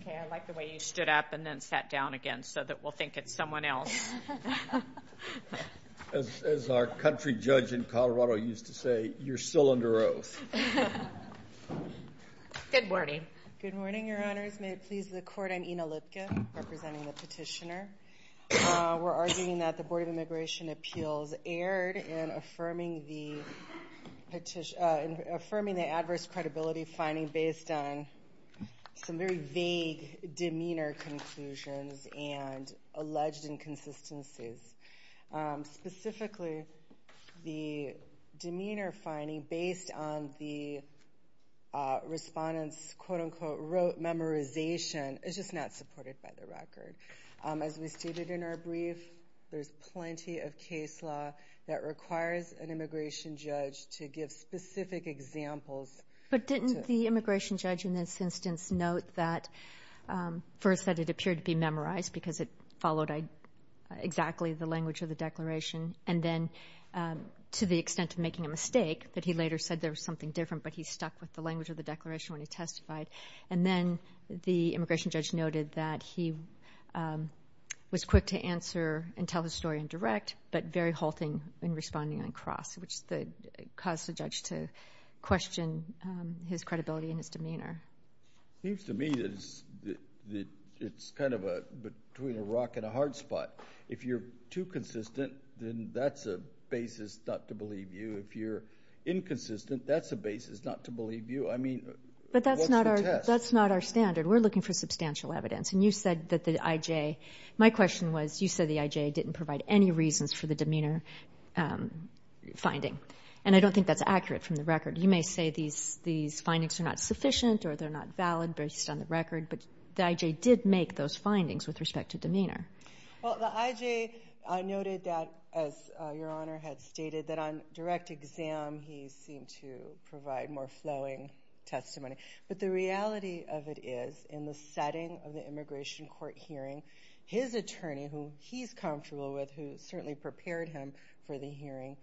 Okay, I like the way you stood up and then sat down again so that we'll think it's someone else. As our country judge in Colorado used to say, you're still under oath. Good morning. Good morning, Your Honors. May it please the Court, I'm Ina Lipkin, representing the petitioner. We're arguing that the Board of Immigration Appeals erred in affirming the adverse credibility finding based on some very vague demeanor conclusions and alleged inconsistencies. Specifically, the demeanor finding based on the respondent's quote-unquote rote memorization is just not supported by the record. As we stated in our brief, there's plenty of case law that requires an immigration judge to give specific examples. But didn't the immigration judge in this instance note that first that it appeared to be memorized because it followed exactly the language of the declaration, and then to the extent of making a mistake that he later said there was something different but he stuck with the language of the declaration when he testified. And then the immigration judge noted that he was quick to answer and tell the story in direct but very halting in responding on cross, which caused the judge to question his credibility and his demeanor. It seems to me that it's kind of between a rock and a hard spot. If you're too consistent, then that's a basis not to believe you. If you're inconsistent, that's a basis not to believe you. I mean, what's the test? But that's not our standard. We're looking for substantial evidence. And you said that the I.J. My question was you said the I.J. didn't provide any reasons for the demeanor finding. And I don't think that's accurate from the record. You may say these findings are not sufficient or they're not valid based on the record, but the I.J. did make those findings with respect to demeanor. Well, the I.J. noted that, as Your Honor had stated, that on direct exam he seemed to provide more flowing testimony. But the reality of it is, in the setting of the immigration court hearing, his attorney, who he's comfortable with, who certainly prepared him for the hearing,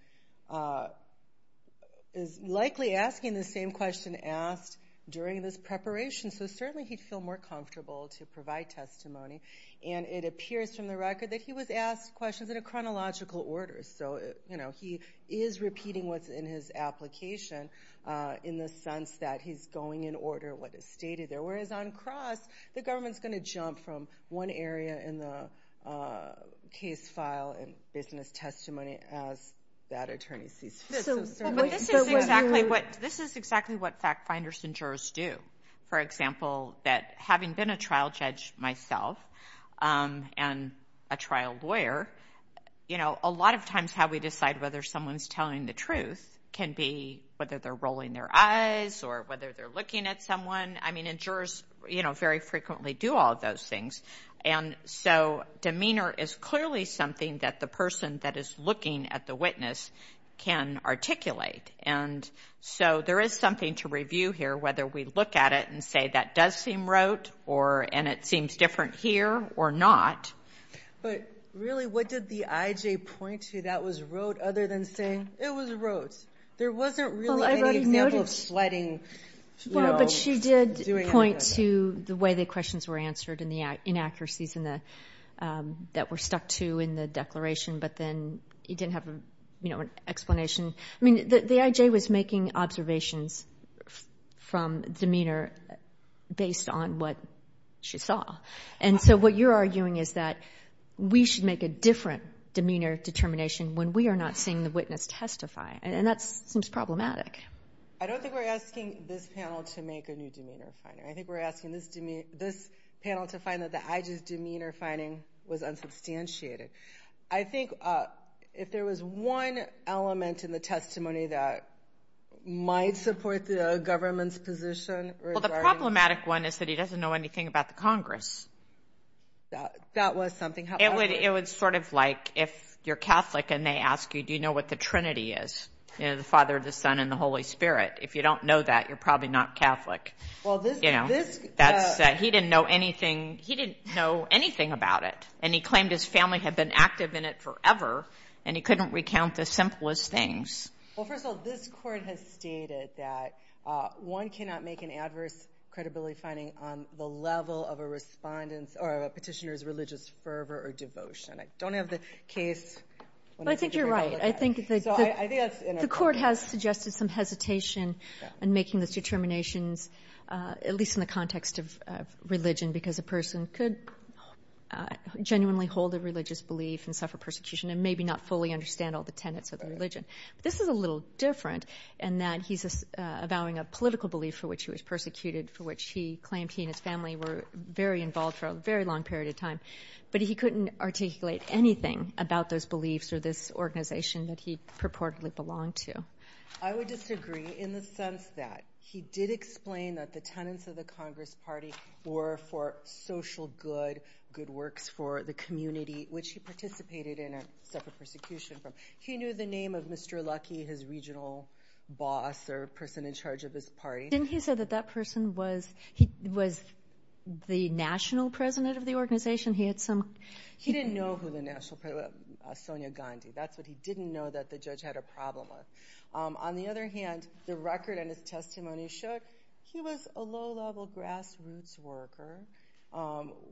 is likely asking the same question asked during this preparation. So certainly he'd feel more comfortable to provide testimony. And it appears from the record that he was asked questions in a chronological order. So, you know, he is repeating what's in his application in the sense that he's going in order what is stated there. Whereas on cross, the government's going to jump from one area in the case file and business testimony as that attorney sees fit. But this is exactly what fact finders and jurors do. For example, that having been a trial judge myself and a trial lawyer, you know, a lot of times how we decide whether someone's telling the truth can be whether they're rolling their eyes or whether they're looking at someone. I mean, and jurors, you know, very frequently do all of those things. And so demeanor is clearly something that the person that is looking at the witness can articulate. And so there is something to review here, whether we look at it and say that does seem rote and it seems different here or not. But really, what did the I.J. point to that was rote other than saying it was rote? There wasn't really any example of sledding, you know, doing anything like that. Well, but she did point to the way the questions were answered and the inaccuracies that were stuck to in the declaration. But then it didn't have, you know, an explanation. I mean, the I.J. was making observations from demeanor based on what she saw. And so what you're arguing is that we should make a different demeanor determination when we are not seeing the witness testify. And that seems problematic. I don't think we're asking this panel to make a new demeanor finding. I think we're asking this panel to find that the I.J.'s demeanor finding was unsubstantiated. I think if there was one element in the testimony that might support the government's position regarding the I.J. That was something. It was sort of like if you're Catholic and they ask you, do you know what the Trinity is? You know, the Father, the Son, and the Holy Spirit. If you don't know that, you're probably not Catholic. Well, this. He didn't know anything. He didn't know anything about it. And he claimed his family had been active in it forever, and he couldn't recount the simplest things. Well, first of all, this court has stated that one cannot make an adverse credibility finding on the level of a petitioner's religious fervor or devotion. I don't have the case. I think you're right. I think the court has suggested some hesitation in making these determinations, at least in the context of religion, because a person could genuinely hold a religious belief and suffer persecution and maybe not fully understand all the tenets of the religion. But this is a little different in that he's avowing a political belief for which he was persecuted, for which he claimed he and his family were very involved for a very long period of time, but he couldn't articulate anything about those beliefs or this organization that he purportedly belonged to. I would disagree in the sense that he did explain that the tenets of the Congress Party were for social good, good works for the community, which he participated in and suffered persecution from. He knew the name of Mr. Luckey, his regional boss or person in charge of his party. Didn't he say that that person was the national president of the organization? He didn't know who the national president was, Sonia Gandhi. That's what he didn't know that the judge had a problem with. On the other hand, the record and his testimony show he was a low-level grassroots worker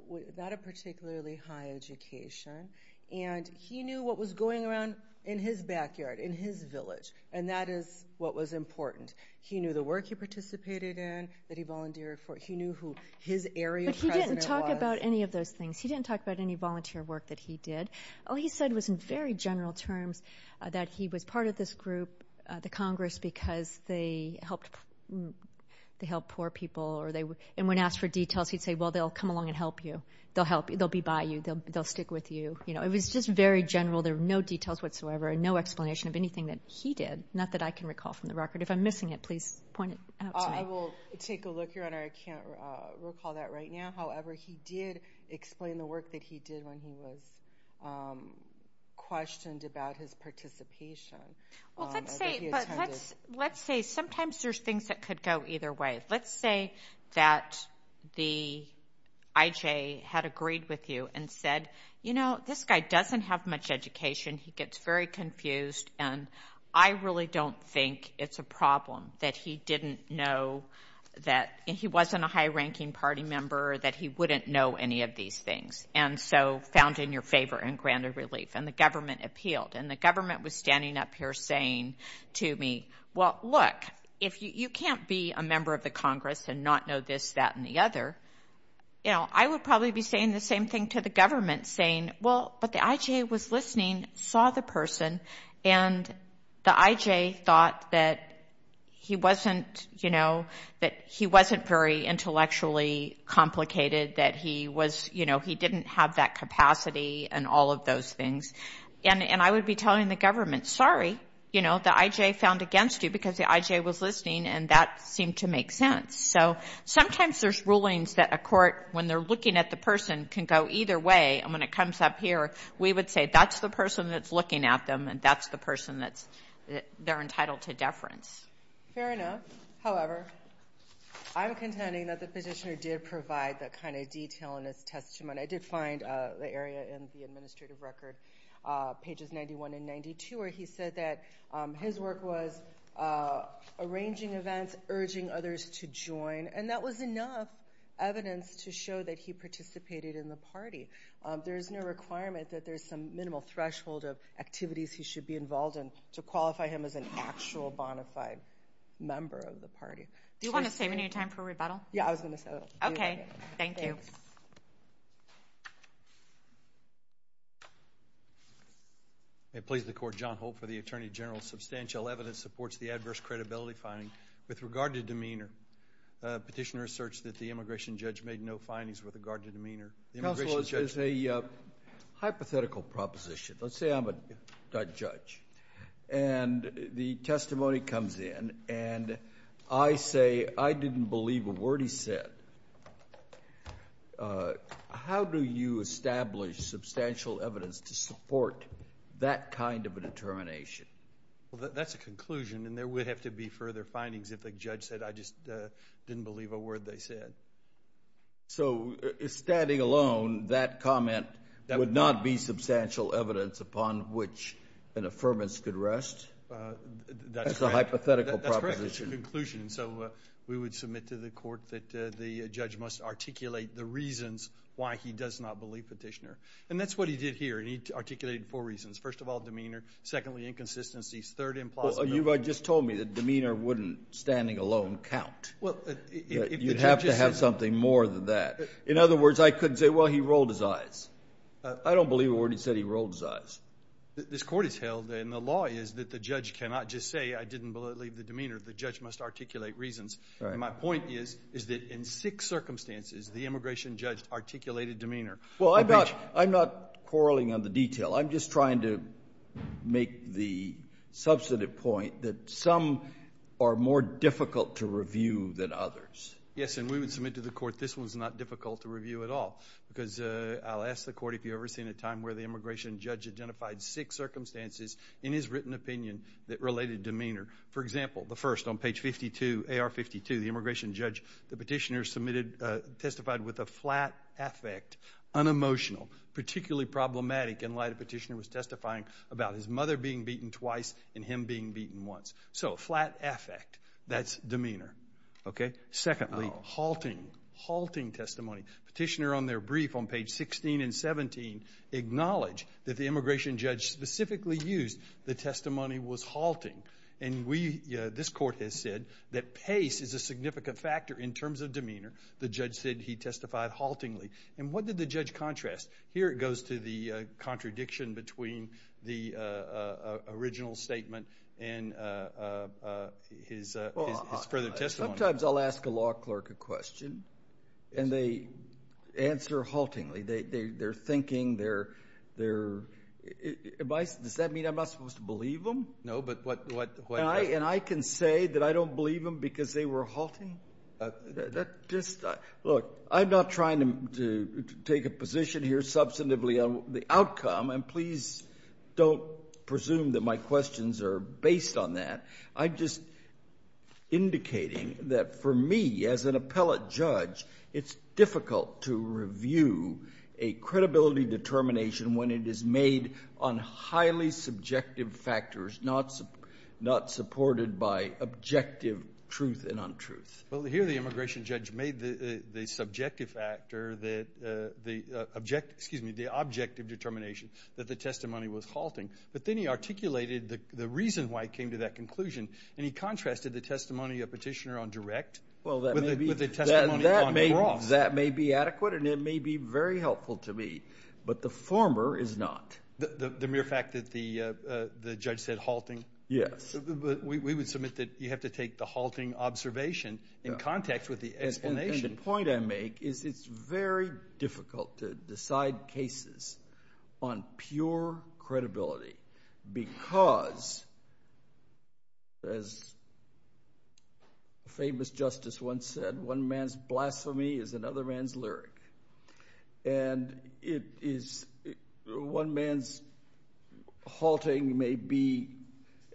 without a particularly high education, and he knew what was going around in his backyard, in his village, and that is what was important. He knew the work he participated in, that he volunteered for. He knew who his area president was. But he didn't talk about any of those things. He didn't talk about any volunteer work that he did. All he said was in very general terms that he was part of this group, the Congress, because they helped poor people. And when asked for details, he'd say, well, they'll come along and help you. They'll help you. They'll be by you. They'll stick with you. It was just very general. There were no details whatsoever and no explanation of anything that he did, not that I can recall from the record. If I'm missing it, please point it out to me. I will take a look, Your Honor. I can't recall that right now. However, he did explain the work that he did when he was questioned about his participation. Well, let's say sometimes there's things that could go either way. Let's say that the IJ had agreed with you and said, you know, this guy doesn't have much education. He gets very confused. And I really don't think it's a problem that he didn't know that he wasn't a high-ranking party member, that he wouldn't know any of these things, and so found in your favor and granted relief. And the government appealed. And the government was standing up here saying to me, well, look, if you can't be a member of the Congress and not know this, that, and the other, you know, I would probably be saying the same thing to the government, saying, well, but the IJ was listening, saw the person, and the IJ thought that he wasn't, you know, that he wasn't very intellectually complicated, that he was, you know, he didn't have that capacity and all of those things. And I would be telling the government, sorry, you know, the IJ found against you because the IJ was listening, and that seemed to make sense. So sometimes there's rulings that a court, when they're looking at the person, can go either way. And when it comes up here, we would say that's the person that's looking at them, and that's the person that they're entitled to deference. Fair enough. However, I'm contending that the petitioner did provide that kind of detail in his testimony. I did find the area in the administrative record, pages 91 and 92, where he said that his work was arranging events, urging others to join, and that was enough evidence to show that he participated in the party. There is no requirement that there's some minimal threshold of activities he should be involved in to qualify him as an actual bona fide member of the party. Do you want to save any time for rebuttal? Yeah, I was going to say that. Okay. Thank you. May it please the Court. John Holt for the Attorney General. Substantial evidence supports the adverse credibility finding with regard to demeanor. Petitioner asserts that the immigration judge made no findings with regard to demeanor. Counsel, it's a hypothetical proposition. Let's say I'm a judge, and the testimony comes in, and I say, I didn't believe a word he said. How do you establish substantial evidence to support that kind of a determination? Well, that's a conclusion, and there would have to be further findings if the judge said, I just didn't believe a word they said. So, standing alone, that comment would not be substantial evidence upon which an affirmance could rest? That's a hypothetical proposition. That's correct. It's a conclusion. So we would submit to the Court that the judge must articulate the reasons why he does not believe Petitioner. And that's what he did here, and he articulated four reasons. First of all, demeanor. Secondly, inconsistencies. Third, implausible. Well, you just told me that demeanor wouldn't, standing alone, count. You'd have to have something more than that. In other words, I could say, well, he rolled his eyes. I don't believe a word he said, he rolled his eyes. This Court has held, and the law is that the judge cannot just say, I didn't believe the demeanor. The judge must articulate reasons. And my point is that in six circumstances, the immigration judge articulated demeanor. Well, I'm not quarreling on the detail. I'm just trying to make the substantive point that some are more difficult to review than others. Yes, and we would submit to the Court this one's not difficult to review at all because I'll ask the Court if you've ever seen a time where the immigration judge identified six circumstances in his written opinion that related demeanor. For example, the first, on page 52, AR52, the immigration judge, the petitioner, testified with a flat affect, unemotional, particularly problematic in light of Petitioner was testifying about his mother being beaten twice and him being beaten once. So flat affect, that's demeanor. Secondly, halting, halting testimony. Petitioner, on their brief on page 16 and 17, acknowledged that the immigration judge specifically used the testimony was halting. And we, this Court has said that pace is a significant factor in terms of demeanor. The judge said he testified haltingly. And what did the judge contrast? Here it goes to the contradiction between the original statement and his further testimony. Sometimes I'll ask a law clerk a question and they answer haltingly. They're thinking, they're, am I, does that mean I'm not supposed to believe them? No, but what. And I can say that I don't believe them because they were halting? That just, look, I'm not trying to take a position here substantively on the outcome, and please don't presume that my questions are based on that. I'm just indicating that for me, as an appellate judge, it's difficult to review a credibility determination when it is made on highly subjective factors, not supported by objective truth and untruth. Well, here the immigration judge made the subjective factor that the objective determination that the testimony was halting. But then he articulated the reason why it came to that conclusion, and he contrasted the testimony of Petitioner on direct with the testimony on gross. That may be adequate and it may be very helpful to me, but the former is not. The mere fact that the judge said halting? Yes. We would submit that you have to take the halting observation in context with the explanation. And the point I make is it's very difficult to decide cases on pure credibility because, as a famous justice once said, one man's blasphemy is another man's lyric. And one man's halting may be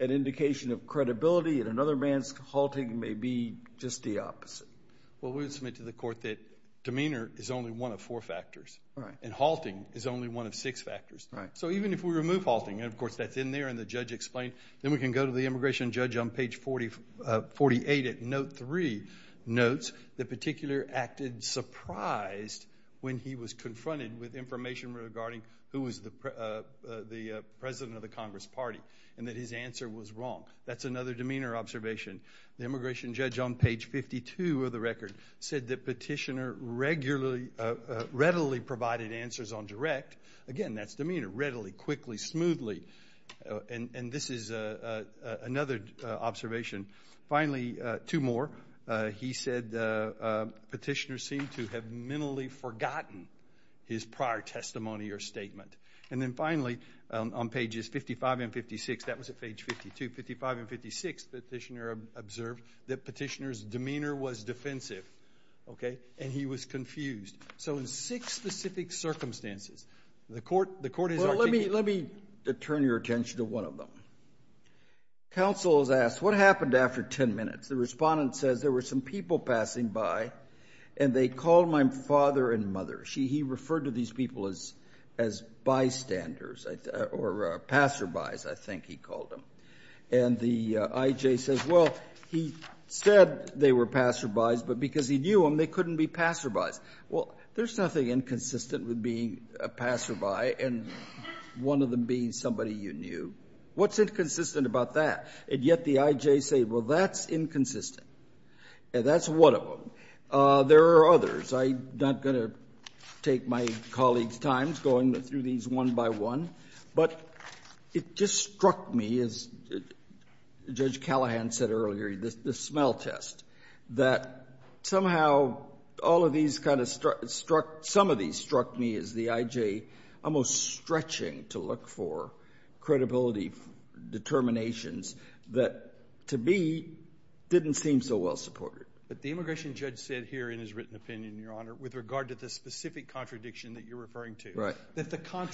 an indication of credibility, and another man's halting may be just the opposite. Well, we would submit to the court that demeanor is only one of four factors. Right. And halting is only one of six factors. Right. So even if we remove halting, and, of course, that's in there and the judge explained, then we can go to the immigration judge on page 48 at note 3, notes the particular acted surprised when he was confronted with information regarding who was the president of the Congress party and that his answer was wrong. That's another demeanor observation. The immigration judge on page 52 of the record said the petitioner readily provided answers on direct. Again, that's demeanor, readily, quickly, smoothly. And this is another observation. Finally, two more. He said the petitioner seemed to have mentally forgotten his prior testimony or statement. And then, finally, on pages 55 and 56, that was at page 52. On pages 55 and 56, the petitioner observed that petitioner's demeanor was defensive. Okay. And he was confused. So in six specific circumstances, the court has argued. Well, let me turn your attention to one of them. Counsel has asked, what happened after 10 minutes? The respondent says, there were some people passing by, and they called my father and mother. He referred to these people as bystanders or passerbys, I think he called them. And the I.J. says, well, he said they were passerbys, but because he knew them, they couldn't be passerbys. Well, there's nothing inconsistent with being a passerby and one of them being somebody you knew. What's inconsistent about that? And yet the I.J. said, well, that's inconsistent. And that's one of them. There are others. I'm not going to take my colleague's time going through these one by one, but it just struck me, as Judge Callahan said earlier, the smell test, that somehow all of these kind of struck, some of these struck me as the I.J. almost stretching to look for credibility determinations that, to me, didn't seem so well supported. But the immigration judge said here in his written opinion, Your Honor, with regard to the specific contradiction that you're referring to.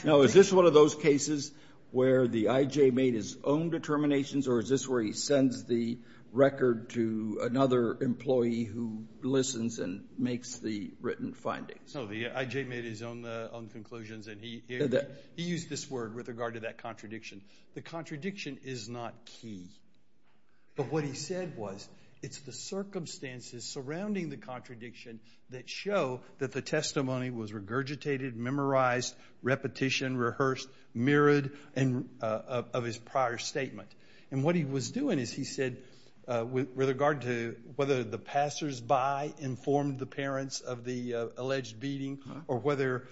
Now, is this one of those cases where the I.J. made his own determinations, or is this where he sends the record to another employee who listens and makes the written findings? No, the I.J. made his own conclusions, and he used this word with regard to that contradiction. The contradiction is not key. But what he said was it's the circumstances surrounding the contradiction that show that the testimony was regurgitated, memorized, repetition, rehearsed, mirrored of his prior statement. And what he was doing is he said with regard to whether the passersby informed the parents of the alleged beating or whether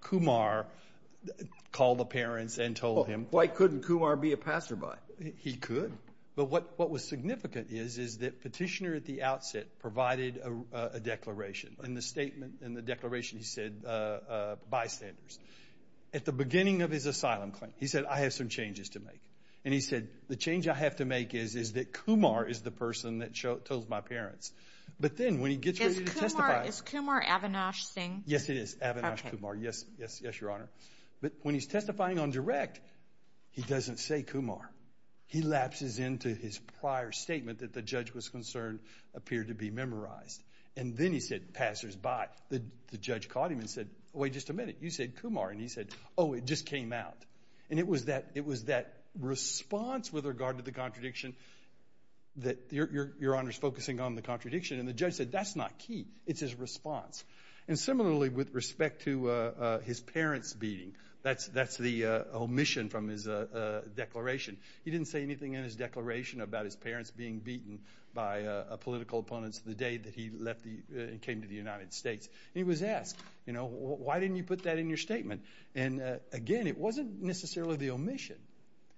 Kumar called the parents and told him. Why couldn't Kumar be a passerby? He could, but what was significant is that petitioner at the outset provided a declaration. In the statement, in the declaration, he said bystanders. At the beginning of his asylum claim, he said, I have some changes to make. And he said, the change I have to make is that Kumar is the person that told my parents. But then when he gets ready to testify. Is Kumar Avinash Singh? Yes, it is. Avinash Kumar. Yes, Your Honor. But when he's testifying on direct, he doesn't say Kumar. He lapses into his prior statement that the judge was concerned appeared to be memorized. And then he said passersby. The judge caught him and said, wait just a minute. You said Kumar. And he said, oh, it just came out. And it was that response with regard to the contradiction that Your Honor is focusing on the contradiction. And the judge said that's not key. It's his response. And similarly, with respect to his parents beating. That's the omission from his declaration. He didn't say anything in his declaration about his parents being beaten by political opponents the day that he left and came to the United States. And he was asked, you know, why didn't you put that in your statement? And, again, it wasn't necessarily the omission.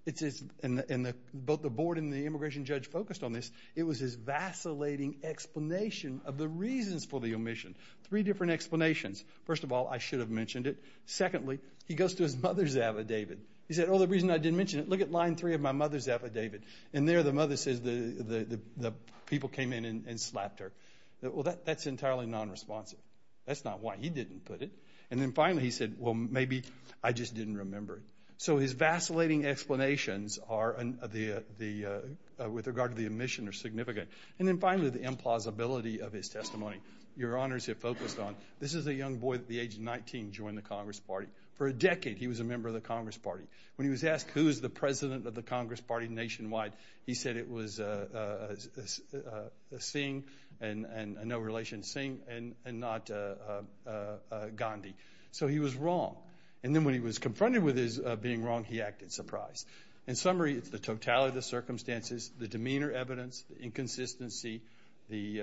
It's his, and both the board and the immigration judge focused on this. It was his vacillating explanation of the reasons for the omission. Three different explanations. First of all, I should have mentioned it. Secondly, he goes to his mother's affidavit. He said, oh, the reason I didn't mention it, look at line three of my mother's affidavit. And there the mother says the people came in and slapped her. Well, that's entirely nonresponsive. That's not why he didn't put it. And then, finally, he said, well, maybe I just didn't remember it. So his vacillating explanations with regard to the omission are significant. And then, finally, the implausibility of his testimony. Your Honors have focused on this is a young boy at the age of 19 joined the Congress Party. For a decade he was a member of the Congress Party. When he was asked who is the president of the Congress Party nationwide, he said it was Singh and no relation to Singh and not Gandhi. So he was wrong. And then when he was confronted with his being wrong, he acted surprised. In summary, it's the totality of the circumstances, the demeanor evidence, the inconsistency, the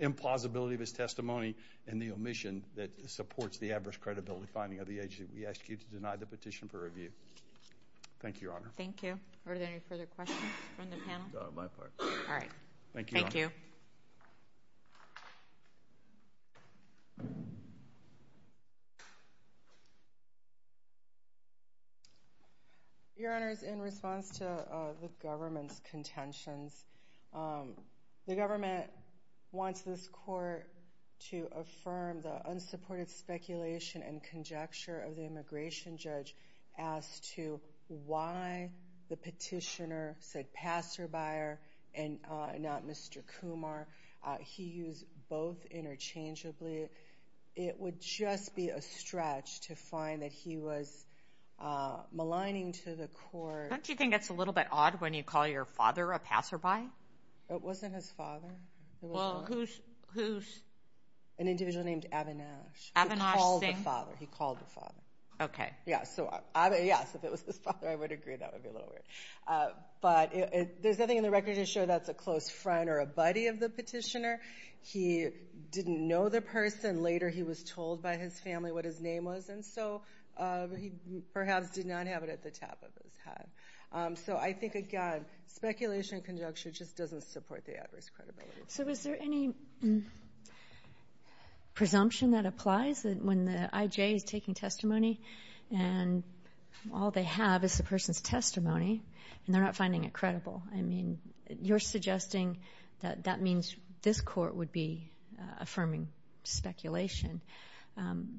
implausibility of his testimony, and the omission that supports the adverse credibility finding of the agent. We ask you to deny the petition for review. Thank you, Your Honor. Thank you. Are there any further questions from the panel? Not on my part. All right. Thank you, Your Honor. Thank you. Your Honors, in response to the government's contentions, the government wants this court to affirm the unsupported speculation and conjecture of the immigration judge as to why the petitioner said, and not Mr. Kumar. He used both interchangeably. It would just be a stretch to find that he was maligning to the court. Don't you think that's a little bit odd when you call your father a passerby? It wasn't his father. Well, who's? An individual named Avinash. Avinash Singh? He called the father. He called the father. Okay. Yeah, so if it was his father, I would agree. That would be a little weird. But there's nothing in the record to show that's a close friend or a buddy of the petitioner. He didn't know the person. Later he was told by his family what his name was, and so he perhaps did not have it at the top of his head. So I think, again, speculation and conjecture just doesn't support the adverse credibility. So is there any presumption that applies when the IJ is taking testimony and all they have is the person's testimony and they're not finding it credible? I mean, you're suggesting that that means this court would be affirming speculation.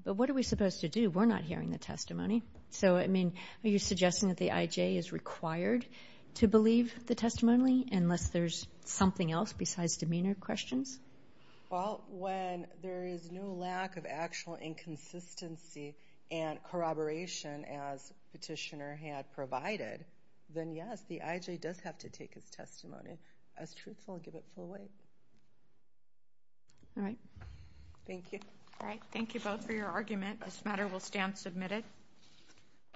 But what are we supposed to do? We're not hearing the testimony. So, I mean, are you suggesting that the IJ is required to believe the testimony unless there's something else besides demeanor questions? Well, when there is no lack of actual inconsistency and corroboration as petitioner had provided, then, yes, the IJ does have to take his testimony as truthful and give it full weight. All right. Thank you. All right, thank you both for your argument. This matter will stand submitted.